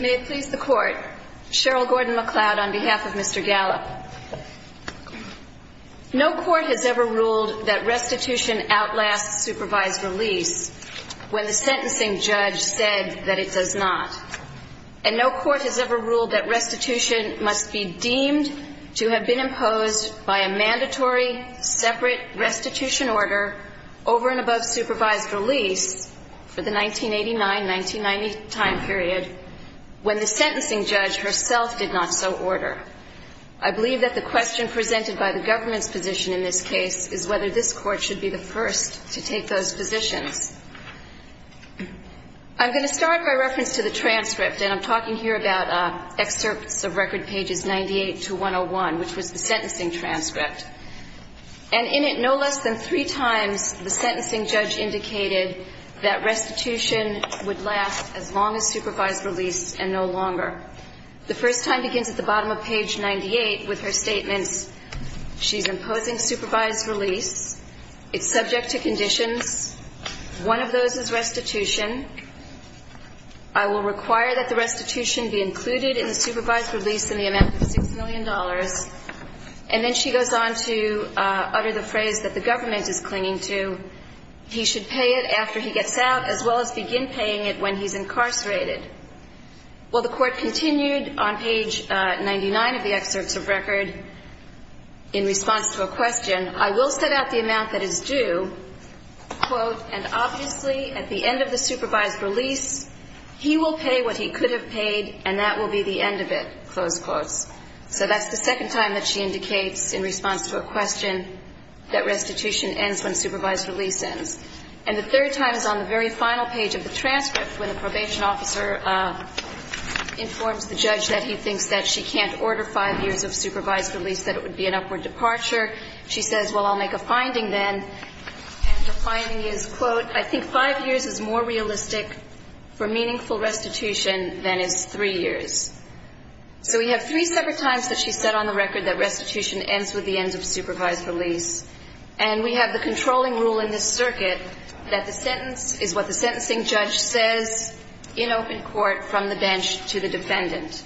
May it please the court. Cheryl Gordon-McLeod on behalf of Mr. Gallup. No court has ever ruled that restitution outlasts supervised release when the sentencing judge said that it does not. And no court has ever ruled that restitution must be deemed to have been imposed by a mandatory separate restitution order over and above supervised release for the 1989-1990 time period when the sentencing judge herself did not so order. I believe that the question presented by the government's position in this case is whether this court should be the first to take those positions. I'm going to start by reference to the transcript, and I'm talking here about excerpts of record pages 98 to 101, which was the sentencing transcript. And in it no less than three times the sentencing judge indicated that restitution would last as long as supervised release and no longer. The first time begins at the bottom of page 98 with her statements. She's imposing supervised release. It's subject to conditions. One of those is restitution. I will require that the restitution be included in the supervised release in the amount of $6 million. And then she goes on to utter the phrase that the government is clinging to. He should pay it after he gets out as well as begin paying it when he's incarcerated. Well, the court continued on page 99 of the excerpts of record in response to a question. I will set out the amount that is due, quote, and obviously at the end of the supervised release he will pay what he could have paid and that will be the end of it, close quotes. So that's the second time that she indicates in response to a question that restitution ends when And the third time is on the very final page of the transcript when the probation officer informs the judge that he thinks that she can't order five years of supervised release, that it would be an upward departure. She says, well, I'll make a finding then. And the finding is, quote, I think five years is more realistic for meaningful restitution than is three years. So we have three separate times that she said on the record that restitution ends with the end of supervised release. And we have the controlling rule in this circuit that the sentence is what the sentencing judge says in open court from the bench to the defendant.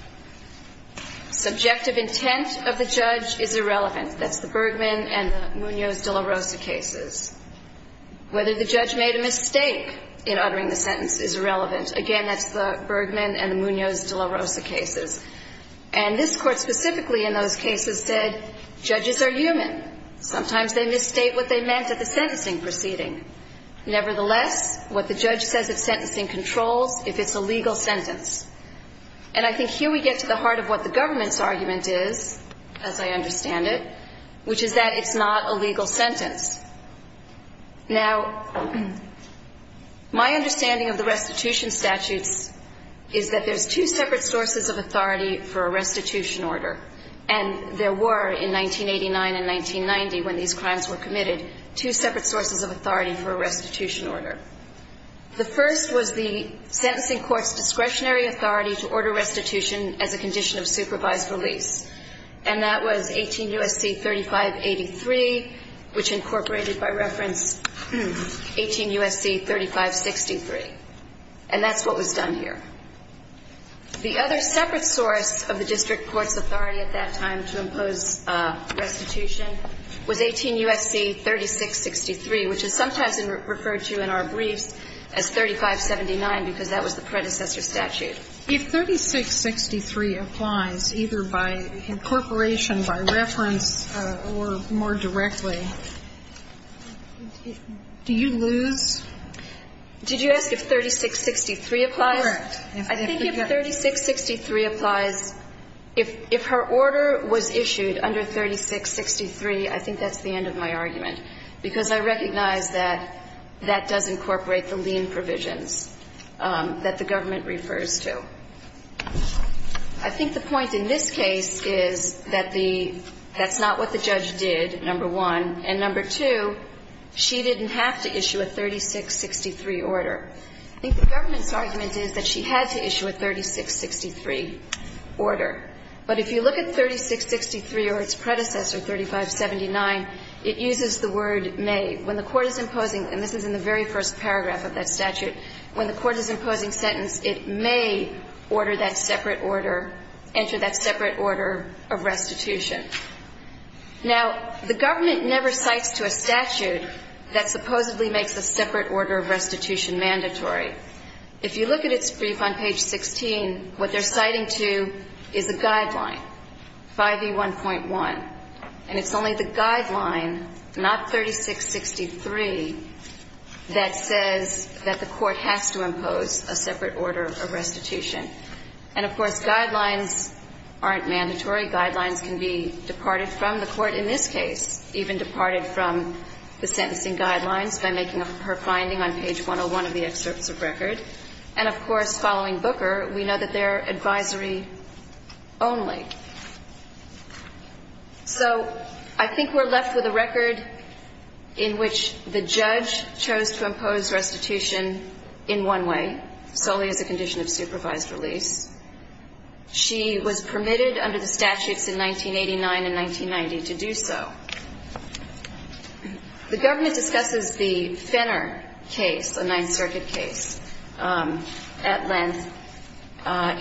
Subjective intent of the judge is irrelevant. That's the Bergman and the Munoz-De La Rosa cases. Whether the judge made a mistake in uttering the sentence is irrelevant. Again, that's the Bergman and the Munoz-De La Rosa cases. And this court specifically they misstate what they meant at the sentencing proceeding. Nevertheless, what the judge says of sentencing controls if it's a legal sentence. And I think here we get to the heart of what the government's argument is, as I understand it, which is that it's not a legal sentence. Now, my understanding of the restitution statutes is that there's two separate sources of authority for a restitution order. And there were in 1989 and 1990 when these crimes were committed, two separate sources of authority for a restitution order. The first was the sentencing court's discretionary authority to order restitution as a condition of supervised release. And that was 18 U.S.C. 3583, which incorporated by reference 18 U.S.C. 3563. And that's what was done here. The other separate source of the district court's authority at that time to impose restitution was 18 U.S.C. 3663, which is sometimes referred to in our briefs as 3579 because that was the predecessor statute. Sotomayor, if 3663 applies, either by incorporation, by reference, or more directly, do you lose? Did you ask if 3663 applies? Correct. I think that's the end of my argument, because I recognize that that does incorporate the lien provisions that the government refers to. I think the point in this case is that the — that's not what the judge did, number one. And number two, she didn't have to issue a 3663 order. I think the government's argument is that she had to issue a 3663 order. But if you look at 3663, I think that's the end of my argument. If you look at 3663 or its predecessor, 3579, it uses the word may. When the court is imposing — and this is in the very first paragraph of that statute — when the court is imposing sentence, it may order that separate order — enter that separate order of restitution. Now, the government never cites to a statute that supposedly makes a separate order of restitution mandatory. If you look at its brief on page 16, what they're citing to is a guideline, 5E1.1. And it's only the guideline, not 3663, that says that the court has to impose a separate order of restitution. And, of course, guidelines aren't mandatory. Guidelines can be departed from. The court in this case even departed from the sentencing guidelines by making her finding on page 101 of the excerpts of record. And, of course, following Booker, we know that they're advisory only. So I think we're left with a record in which the judge chose to impose restitution in one way, solely as a condition of supervised release. She was permitted under the statutes in 1989 and 1990 to do so. The government discusses the Fenner case, a Ninth Circuit case, at length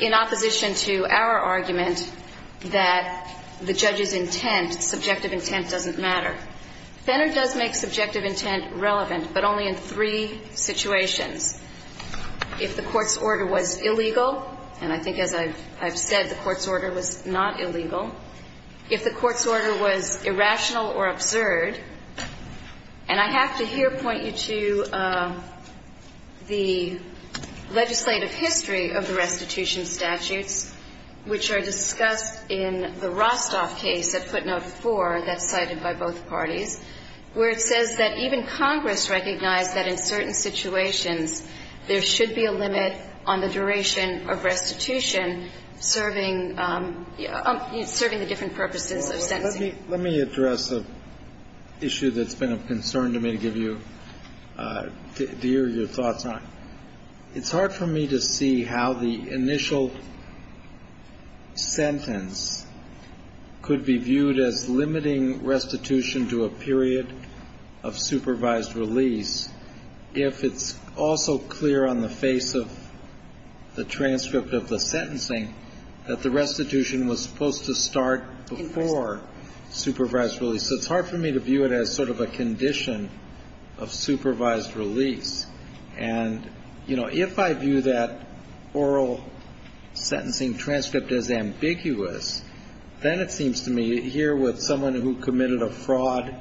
in opposition to our argument that the judge's intent, subjective intent, doesn't matter. Fenner does make subjective intent relevant, but only in three situations. If the court's order was illegal — and I think, as I've said, the court's order was not illegal — if the court's order was irrational or absurd — and I have to here point you to the legislative history of the restitution statutes, which are discussed in the Rostoff case at footnote 4 that's cited by both parties, where it says that even Congress recognized that in certain situations there should be a limit on the duration of restitution serving the different purposes of sentencing. Let me address an issue that's been of concern to me to give you — to hear your thoughts on. It's hard for me to see how the initial sentence could be viewed as limiting restitution to a period of supervised release if it's also clear on the face of the transcript of the sentencing that the restitution was supposed to start before the supervised release. So it's hard for me to view it as sort of a condition of supervised release. And, you know, if I view that oral sentencing transcript as ambiguous, then it seems to me, here with someone who committed a fraud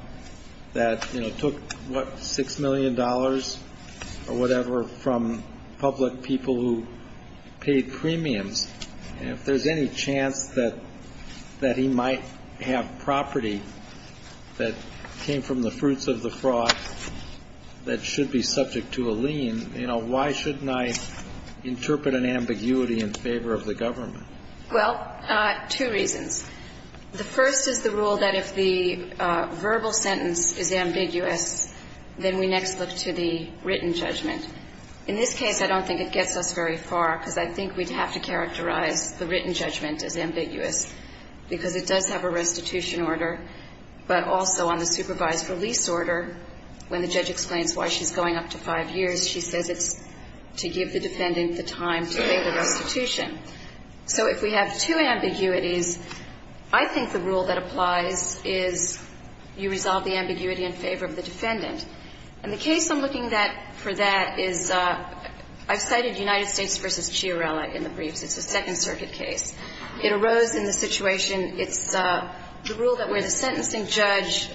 that, you know, took, what, $6 million or whatever from public people who paid premiums, if there's any chance that he might have property that came from the fruits of the fraud that should be subject to a lien, you know, why shouldn't I interpret an ambiguity in favor of the government? Well, two reasons. The first is the rule that if the verbal sentence is ambiguous, then we next look to the written judgment. In this case, I don't think it gets us very far. It does have a restitution order, but also on the supervised release order, when the judge explains why she's going up to five years, she says it's to give the defendant the time to pay the restitution. So if we have two ambiguities, I think the rule that applies is you resolve the ambiguity in favor of the defendant. And the case I'm looking for that is I've cited United States v. Chiarella in the briefs. It's a Second Circuit case. It arose in the situation, it's the rule that where the sentencing judge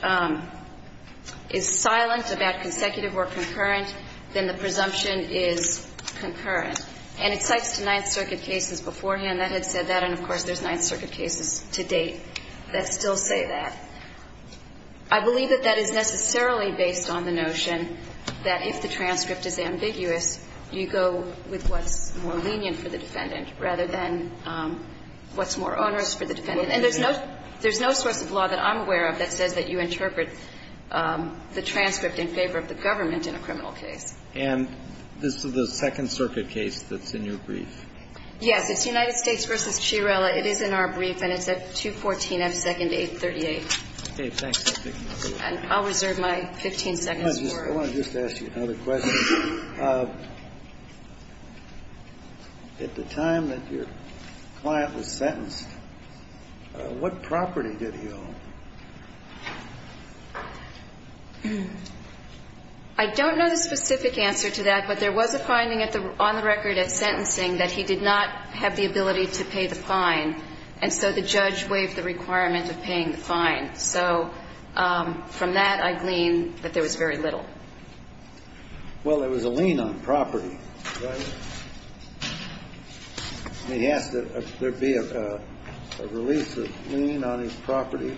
is silent about consecutive or concurrent, then the presumption is concurrent. And it cites to Ninth Circuit cases beforehand that had said that, and of course, there's Ninth Circuit cases to date that still say that. I believe that that is necessarily based on the notion that if the transcript is ambiguous, you go with what's more lenient for the defendant rather than what's more onerous for the defendant. And there's no source of law that I'm aware of that says that you interpret the transcript in favor of the government in a criminal case. And this is the Second Circuit case that's in your brief? Yes. It's United States v. Chiarella. It is in our brief, and it's at 214 F. 2nd, 838. And I'll reserve my 15 seconds for it. I want to just ask you another question. At the time that your client was sentenced, what property did he own? I don't know the specific answer to that, but there was a finding on the record at sentencing that he did not have the ability to pay the fine. And so the judge waived the requirement of paying the fine. So from that, I glean that there was very little. Well, there was a lien on property, right? And he asked that there be a release of lien on his property.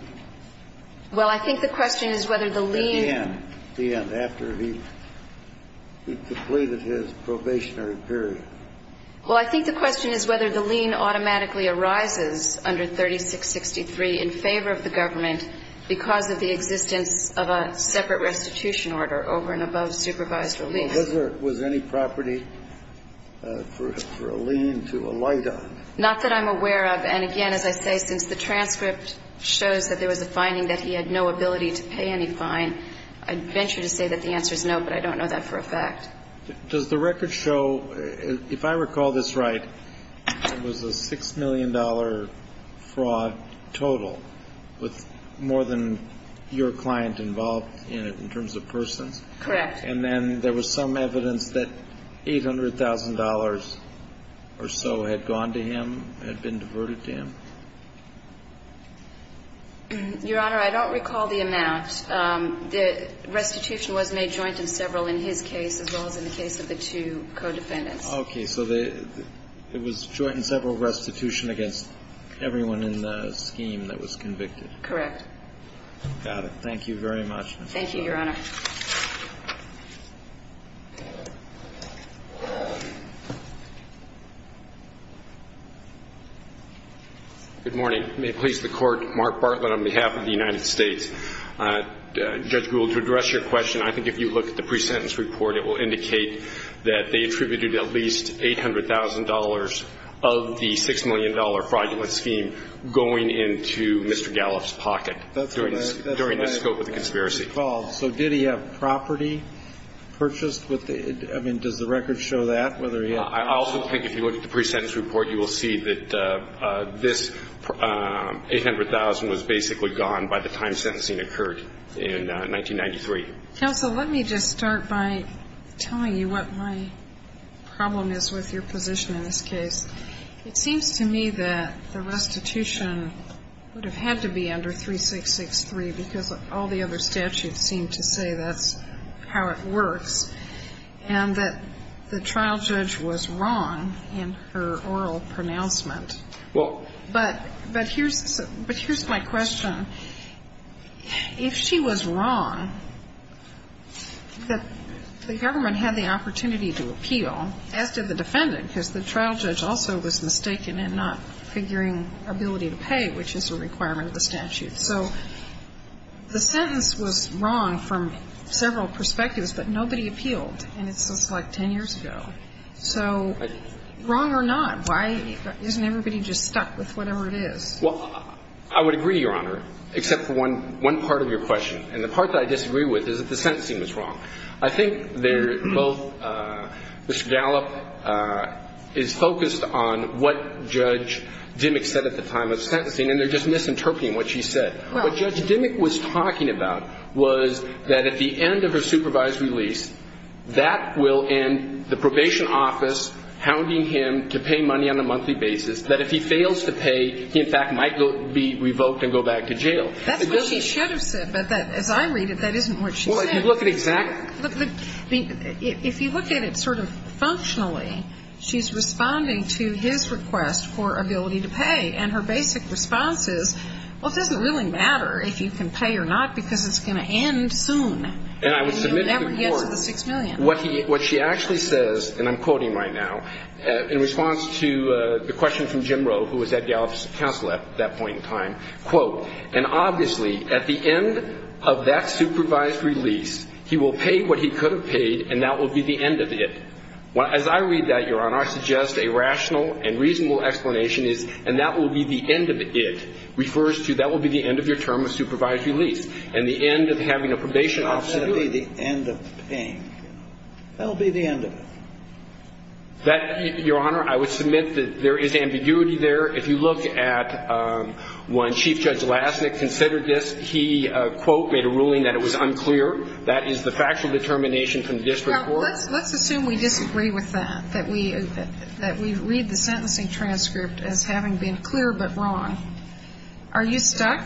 Well, I think the question is whether the lien... At the end. At the end, after he completed his probationary period. Well, I think the question is whether the lien automatically arises under 3663 in favor of the government because of the existence of a separate restitution order over and above supervised release. Well, was there any property for a lien to alight on? Not that I'm aware of. And again, as I say, since the transcript shows that there was a finding that he had no ability to pay any fine, I'd venture to say that the answer is no, but I don't know that for a fact. Does the record show, if I recall this right, it was a $6 million fraud total with more than your client involved in it in terms of persons? Correct. And then there was some evidence that $800,000 or so had gone to him, had been diverted to him? Your Honor, I don't recall the amount. The restitution was made joint in several in his case as well as in the case of the two co-defendants. Okay, so it was joint in several restitution against everyone in the scheme that was convicted? Correct. Got it. Thank you very much. Thank you, Your Honor. Good morning. May it please the Court, Mark Bartlett on behalf of the United States Department of Justice, I'd like to ask you a question on the pre-sentence report. It will indicate that they attributed at least $800,000 of the $6 million fraudulent scheme going into Mr. Gallup's pocket during the scope of the conspiracy. So did he have property purchased? I mean, does the record show that? I also think if you look at the pre-sentence report, you will see that this 800,000 was basically gone by the time sentencing occurred in 1993. Counsel, let me just start by telling you what my problem is with your position in this case. It seems to me that the restitution would have had to be under 3663 because all the other statutes seem to say that's how it works, and that the trial judge was wrong in her oral pronouncement. Well. But here's my question. If she was wrong, the government had the opportunity to appeal, as did the defendant, because the trial judge also was mistaken in not figuring ability to pay, which is a requirement of the statute. So the sentence was wrong from several perspectives, but nobody appealed, and so wrong or not, why isn't everybody just stuck with whatever it is? Well, I would agree, Your Honor, except for one part of your question, and the part that I disagree with is that the sentencing was wrong. I think they're both – Mr. Gallup is focused on what Judge Dimmick said at the time of sentencing, and they're just misinterpreting what she said. What Judge Dimmick was talking about was that at the end of her supervised release, that will end the probation office hounding him to pay money on a monthly basis, that if he fails to pay, he, in fact, might be revoked and go back to jail. That's what she should have said, but as I read it, that isn't what she said. Well, if you look at exact – If you look at it sort of functionally, she's responding to his request for ability to pay, and her basic response is, well, it doesn't really matter if you can pay or not, because it's going to end soon, and you'll never get to the $6 million. And I would submit to the Court what she actually says – and I'm quoting right now – in response to the question from Jim Rowe, who was at Gallup's counsel at that point in time, quote, And obviously, at the end of that supervised release, he will pay what he could have paid, and that will be the end of it. As I read that, Your Honor, I suggest a rational and reasonable explanation is, and that will be the end of it, refers to that will be the end of your term of probation, and the end of having a probation officer do it. That will be the end of paying. That will be the end of it. That – Your Honor, I would submit that there is ambiguity there. If you look at when Chief Judge Lassnick considered this, he, quote, made a ruling that it was unclear. That is the factual determination from the district court. Well, let's assume we disagree with that, that we read the sentencing transcript as having been clear but wrong. Are you stuck?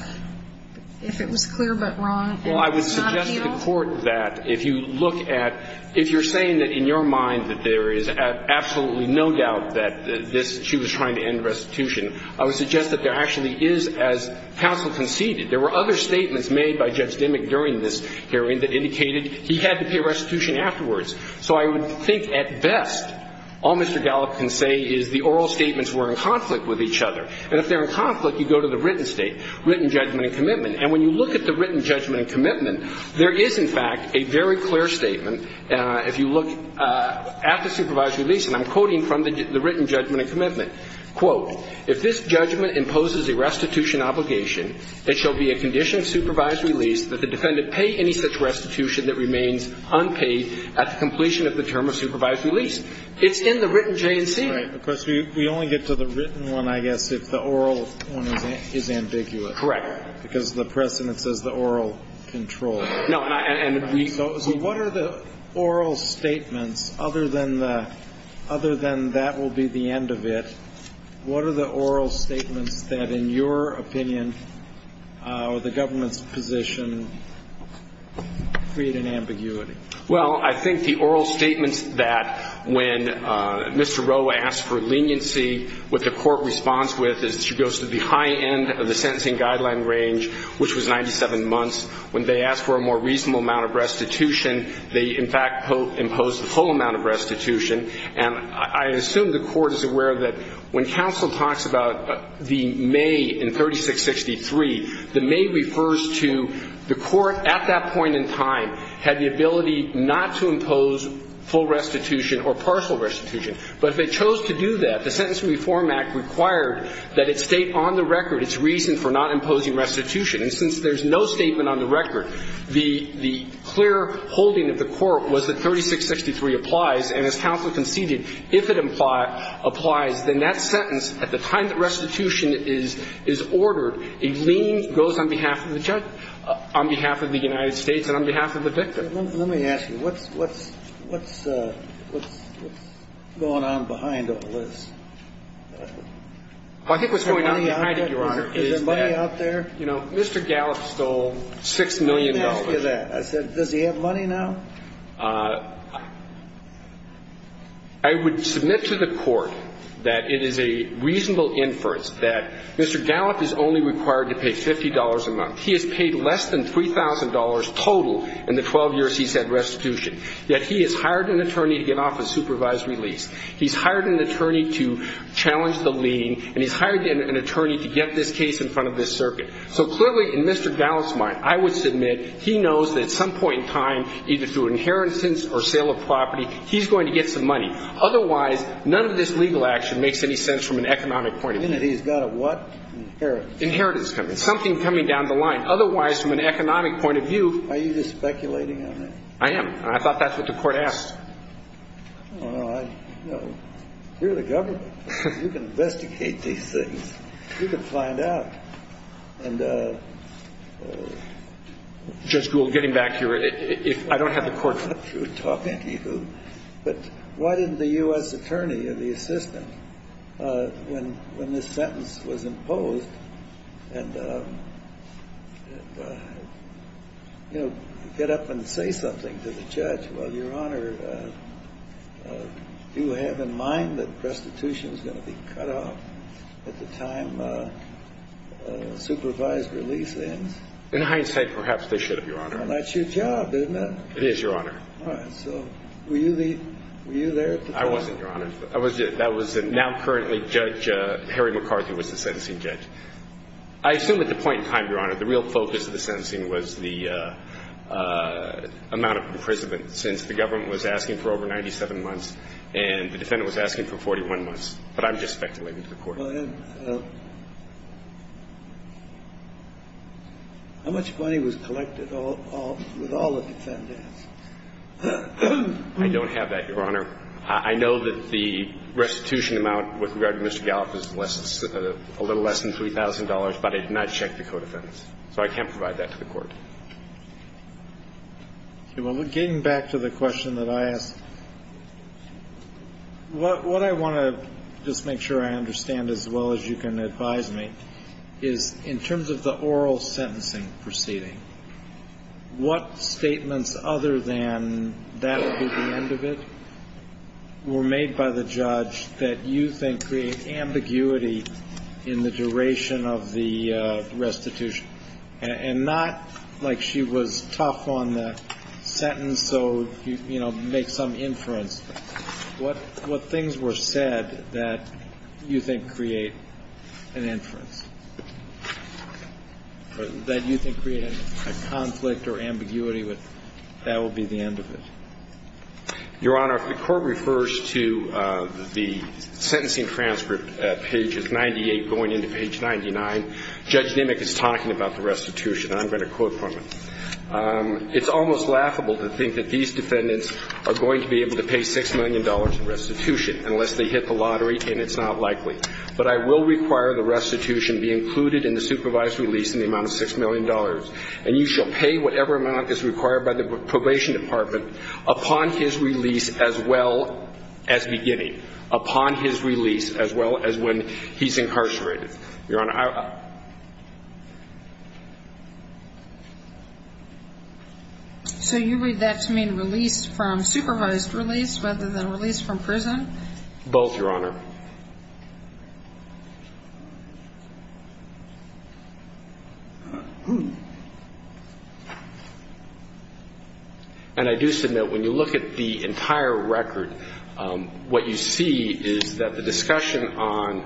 If it was clear but wrong and not a penal? Well, I would suggest to the Court that if you look at – if you're saying that in your mind that there is absolutely no doubt that this – she was trying to end restitution, I would suggest that there actually is, as counsel conceded. There were other statements made by Judge Dimmick during this hearing that indicated he had to pay restitution afterwards. So I would think at best all Mr. Gallup can say is the oral statements were in conflict with each other. And if they're in conflict, you go to the written state. Written judgment and commitment. And when you look at the written judgment and commitment, there is, in fact, a very clear statement. If you look at the supervised release, and I'm quoting from the written judgment and commitment, quote, "'If this judgment imposes a restitution obligation, it shall be a condition of supervised release that the defendant pay any such restitution that remains unpaid at the completion of the term of supervised release.'" It's in the written J&C. Right. Of course, we only get to the written one, I guess, if the oral one is ambiguous. Correct. Because the precedent says the oral control. No. And we – So what are the oral statements, other than the – other than that will be the end of it, what are the oral statements that, in your opinion, or the government's position, create an ambiguity? Well, I think the oral statements that when Mr. Roa asked for leniency, what the Court responds with is she goes to the high end of the sentencing guideline range, which was 97 months. When they asked for a more reasonable amount of restitution, they, in fact, imposed a full amount of restitution. And I assume the Court is aware that when counsel talks about the may in 3663, the may refers to the Court at that point in time had the ability not to impose full restitution or partial restitution. But if it chose to do that, the Sentence Reform Act required that it state on the record its reason for not imposing restitution. And since there's no statement on the record, the clear holding of the Court was that 3663 applies. And as counsel conceded, if it applies, then that sentence, at the time that And I think the Court has to say that the leniency goes on behalf of the judge, on behalf of the United States, and on behalf of the victim. Let me ask you. What's going on behind all this? I think what's going on behind it, Your Honor, is that Mr. Gallup stole $6 million. Let me ask you that. Does he have money now? I would submit to the Court that it is a reasonable inference that Mr. Gallup is only required to pay $50 a month. He has paid less than $3,000 total in the 12 years he's had restitution, yet he has hired an attorney to get off a supervisory lease. He's hired an attorney to challenge the lien, and he's hired an attorney to get this case in front of this circuit. So clearly, in Mr. Gallup's mind, I would submit he knows that at some point in time, either through inheritance or sale of property, he's going to get some money. Otherwise, none of this legal action makes any sense from an economic point of view. And he's got a what? Inheritance. Inheritance. Something coming down the line. Otherwise, from an economic point of view. Are you just speculating on that? I am. I thought that's what the Court asked. Well, you're the government. You can investigate these things. You can find out. And, Judge Gould, getting back here, I don't have the Court for that. But why didn't the U.S. attorney or the assistant, when this sentence was imposed, get up and say something to the judge? Well, Your Honor, do you have in mind that restitution is going to be cut off at the time supervised release ends? In hindsight, perhaps they should have, Your Honor. Well, that's your job, isn't it? It is, Your Honor. All right. So were you there at the time? I wasn't, Your Honor. That was now currently Judge Harry McCarthy was the sentencing judge. I assume at the point in time, Your Honor, the real focus of the sentencing was the amount of imprisonment since the government was asking for over 97 months and the defendant was asking for 41 months. But I'm just speculating to the Court. Well, then, how much money was collected with all the defendants? I don't have that, Your Honor. I know that the restitution amount with regard to Mr. Galliff is a little less than $3,000, but I did not check the co-defendants. Getting back to the question that I asked, what I want to just make sure I understand as well as you can advise me is in terms of the oral sentencing proceeding, what statements other than that would be the end of it were made by the judge that you think create ambiguity in the duration of the restitution and not like she was tough on the sentence, so, you know, make some inference. What things were said that you think create an inference, that you think create a conflict or ambiguity with, that would be the end of it? Your Honor, if the Court refers to the sentencing transcript at pages 98 going into page 99, Judge Nimick is talking about the restitution, and I'm going to quote from it. It's almost laughable to think that these defendants are going to be able to pay $6 million in restitution unless they hit the lottery, and it's not likely. But I will require the restitution be included in the supervised release in the amount of $6 million, and you shall pay whatever amount is required by the Probation Department upon his release as well as beginning, upon his release as well as when he's incarcerated. Your Honor, I... So you read that to mean release from supervised release rather than release from prison? Both, Your Honor. And I do submit when you look at the entire record, what you see is that the discussion on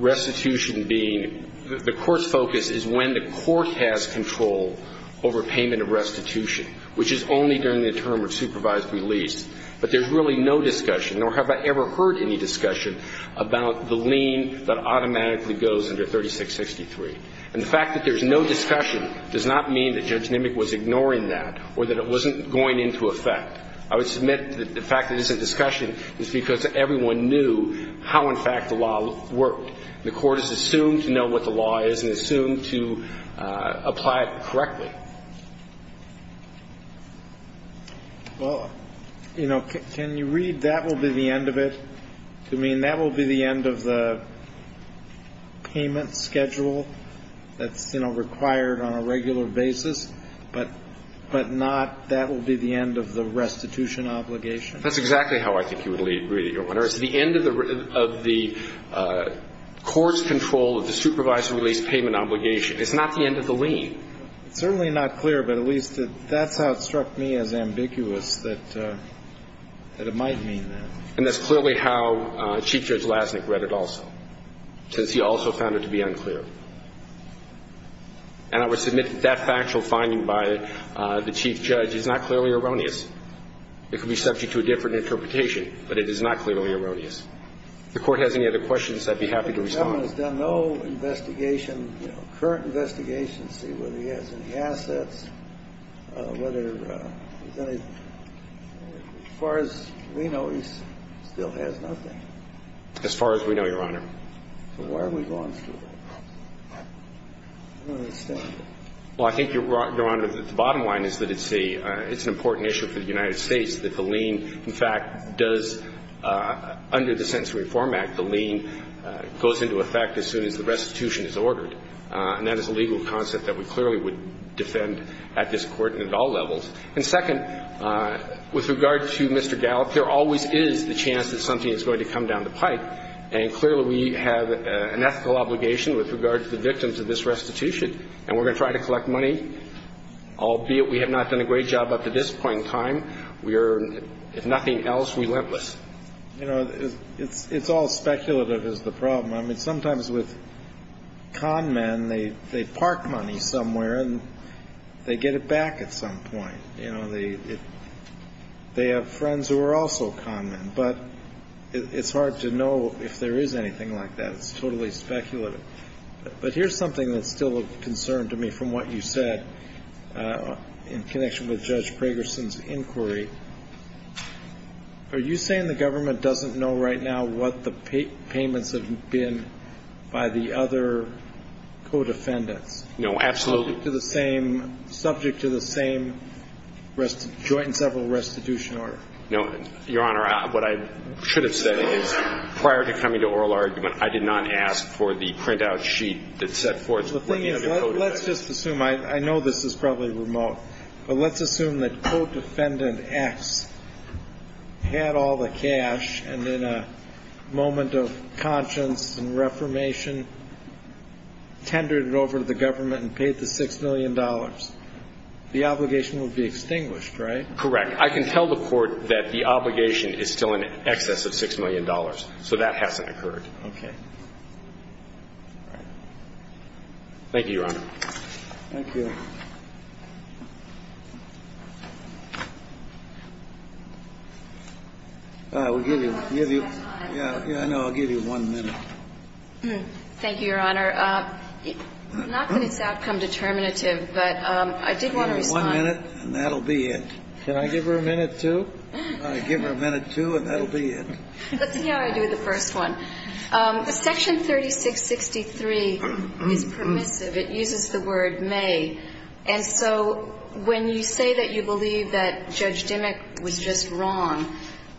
restitution being, the Court's focus is when the Court has control over payment of restitution, which is only during the term of supervised release. But there's really no discussion, nor have I ever heard any discussion, about the lien that automatically goes under 3663. And the fact that there's no discussion does not mean that Judge Nimick was ignoring that or that it wasn't going into effect. I would submit that the fact that there's no discussion is because everyone knew how, in fact, the law worked. The Court has assumed to know what the law is and assumed to apply it correctly. Well, you know, can you read that will be the end of it? To mean that will be the end of the payment schedule that's, you know, required on a regular basis, but not that will be the end of the restitution obligation? That's exactly how I think you would read it, Your Honor. It's the end of the Court's control of the supervised release payment obligation. It's not the end of the lien. It's certainly not clear, but at least that's how it struck me as ambiguous, that it might mean that. And that's clearly how Chief Judge Lasnik read it also, since he also found it to be unclear. And I would submit that that factual finding by the Chief Judge is not clearly erroneous. It could be subject to a different interpretation, but it is not clearly erroneous. If the Court has any other questions, I'd be happy to respond. The gentleman has done no investigation, you know, current investigation to see whether he has any assets, whether there's any. As far as we know, he still has nothing. As far as we know, Your Honor. So why are we going through this? I don't understand. Well, I think, Your Honor, the bottom line is that it's a – it's an important issue for the United States that the lien, in fact, does – under the Sentencing Reform Act, the lien goes into effect as soon as the restitution is ordered. And that is a legal concept that we clearly would defend at this Court and at all levels. And second, with regard to Mr. Gallup, there always is the chance that something is going to come down the pike. And clearly, we have an ethical obligation with regard to the victims of this restitution. And we're going to try to collect money, albeit we have not done a great job up to this point in time. We are, if nothing else, relentless. You know, it's all speculative is the problem. I mean, sometimes with con men, they park money somewhere and they get it back at some point. You know, they have friends who are also con men. But it's hard to know if there is anything like that. It's totally speculative. But here's something that's still a concern to me from what you said in connection with Judge Pragerson's inquiry. Are you saying the government doesn't know right now what the payments have been by the other codefendants? No, absolutely. Subject to the same – subject to the same joint and several restitution order? No. Your Honor, what I should have said is prior to coming to oral argument, I did not ask for the printout sheet that set forth what the other codefendants – Well, the thing is, let's just assume – I know this is probably remote, but let's assume that codefendant X had all the cash and in a moment of conscience and reformation tendered it over to the government and paid the $6 million. The obligation would be extinguished, right? Correct. I can tell the Court that the obligation is still in excess of $6 million. So that hasn't occurred. Okay. All right. Thank you, Your Honor. Thank you. We'll give you – We're running out of time. Yeah, I know. I'll give you one minute. Thank you, Your Honor. Not that it's outcome determinative, but I did want to respond – Can I give her a minute, too? I'll give her a minute, too, and that'll be it. Let's see how I do the first one. Section 3663 is permissive. It uses the word may. And so when you say that you believe that Judge Dimmock was just wrong,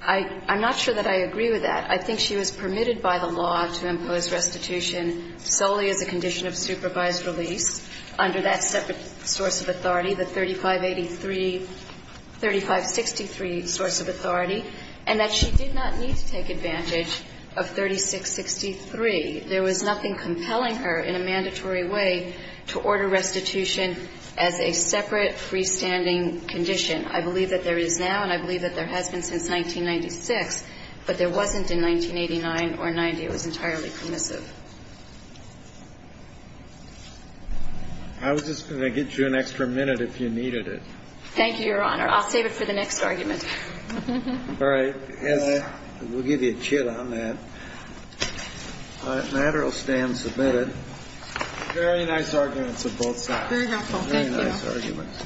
I'm not sure that I agree with that. I think she was permitted by the law to impose restitution solely as a condition of supervised release under that separate source of authority, the 3583-3563 source of authority, and that she did not need to take advantage of 3663. There was nothing compelling her in a mandatory way to order restitution as a separate freestanding condition. I believe that there is now, and I believe that there has been since 1996, but there wasn't in 1989 or 90. It was entirely permissive. I was just going to get you an extra minute if you needed it. Thank you, Your Honor. I'll save it for the next argument. All right. We'll give you a chip on that. The matter will stand submitted. Very nice arguments of both sides. Very helpful. Thank you. Very nice arguments.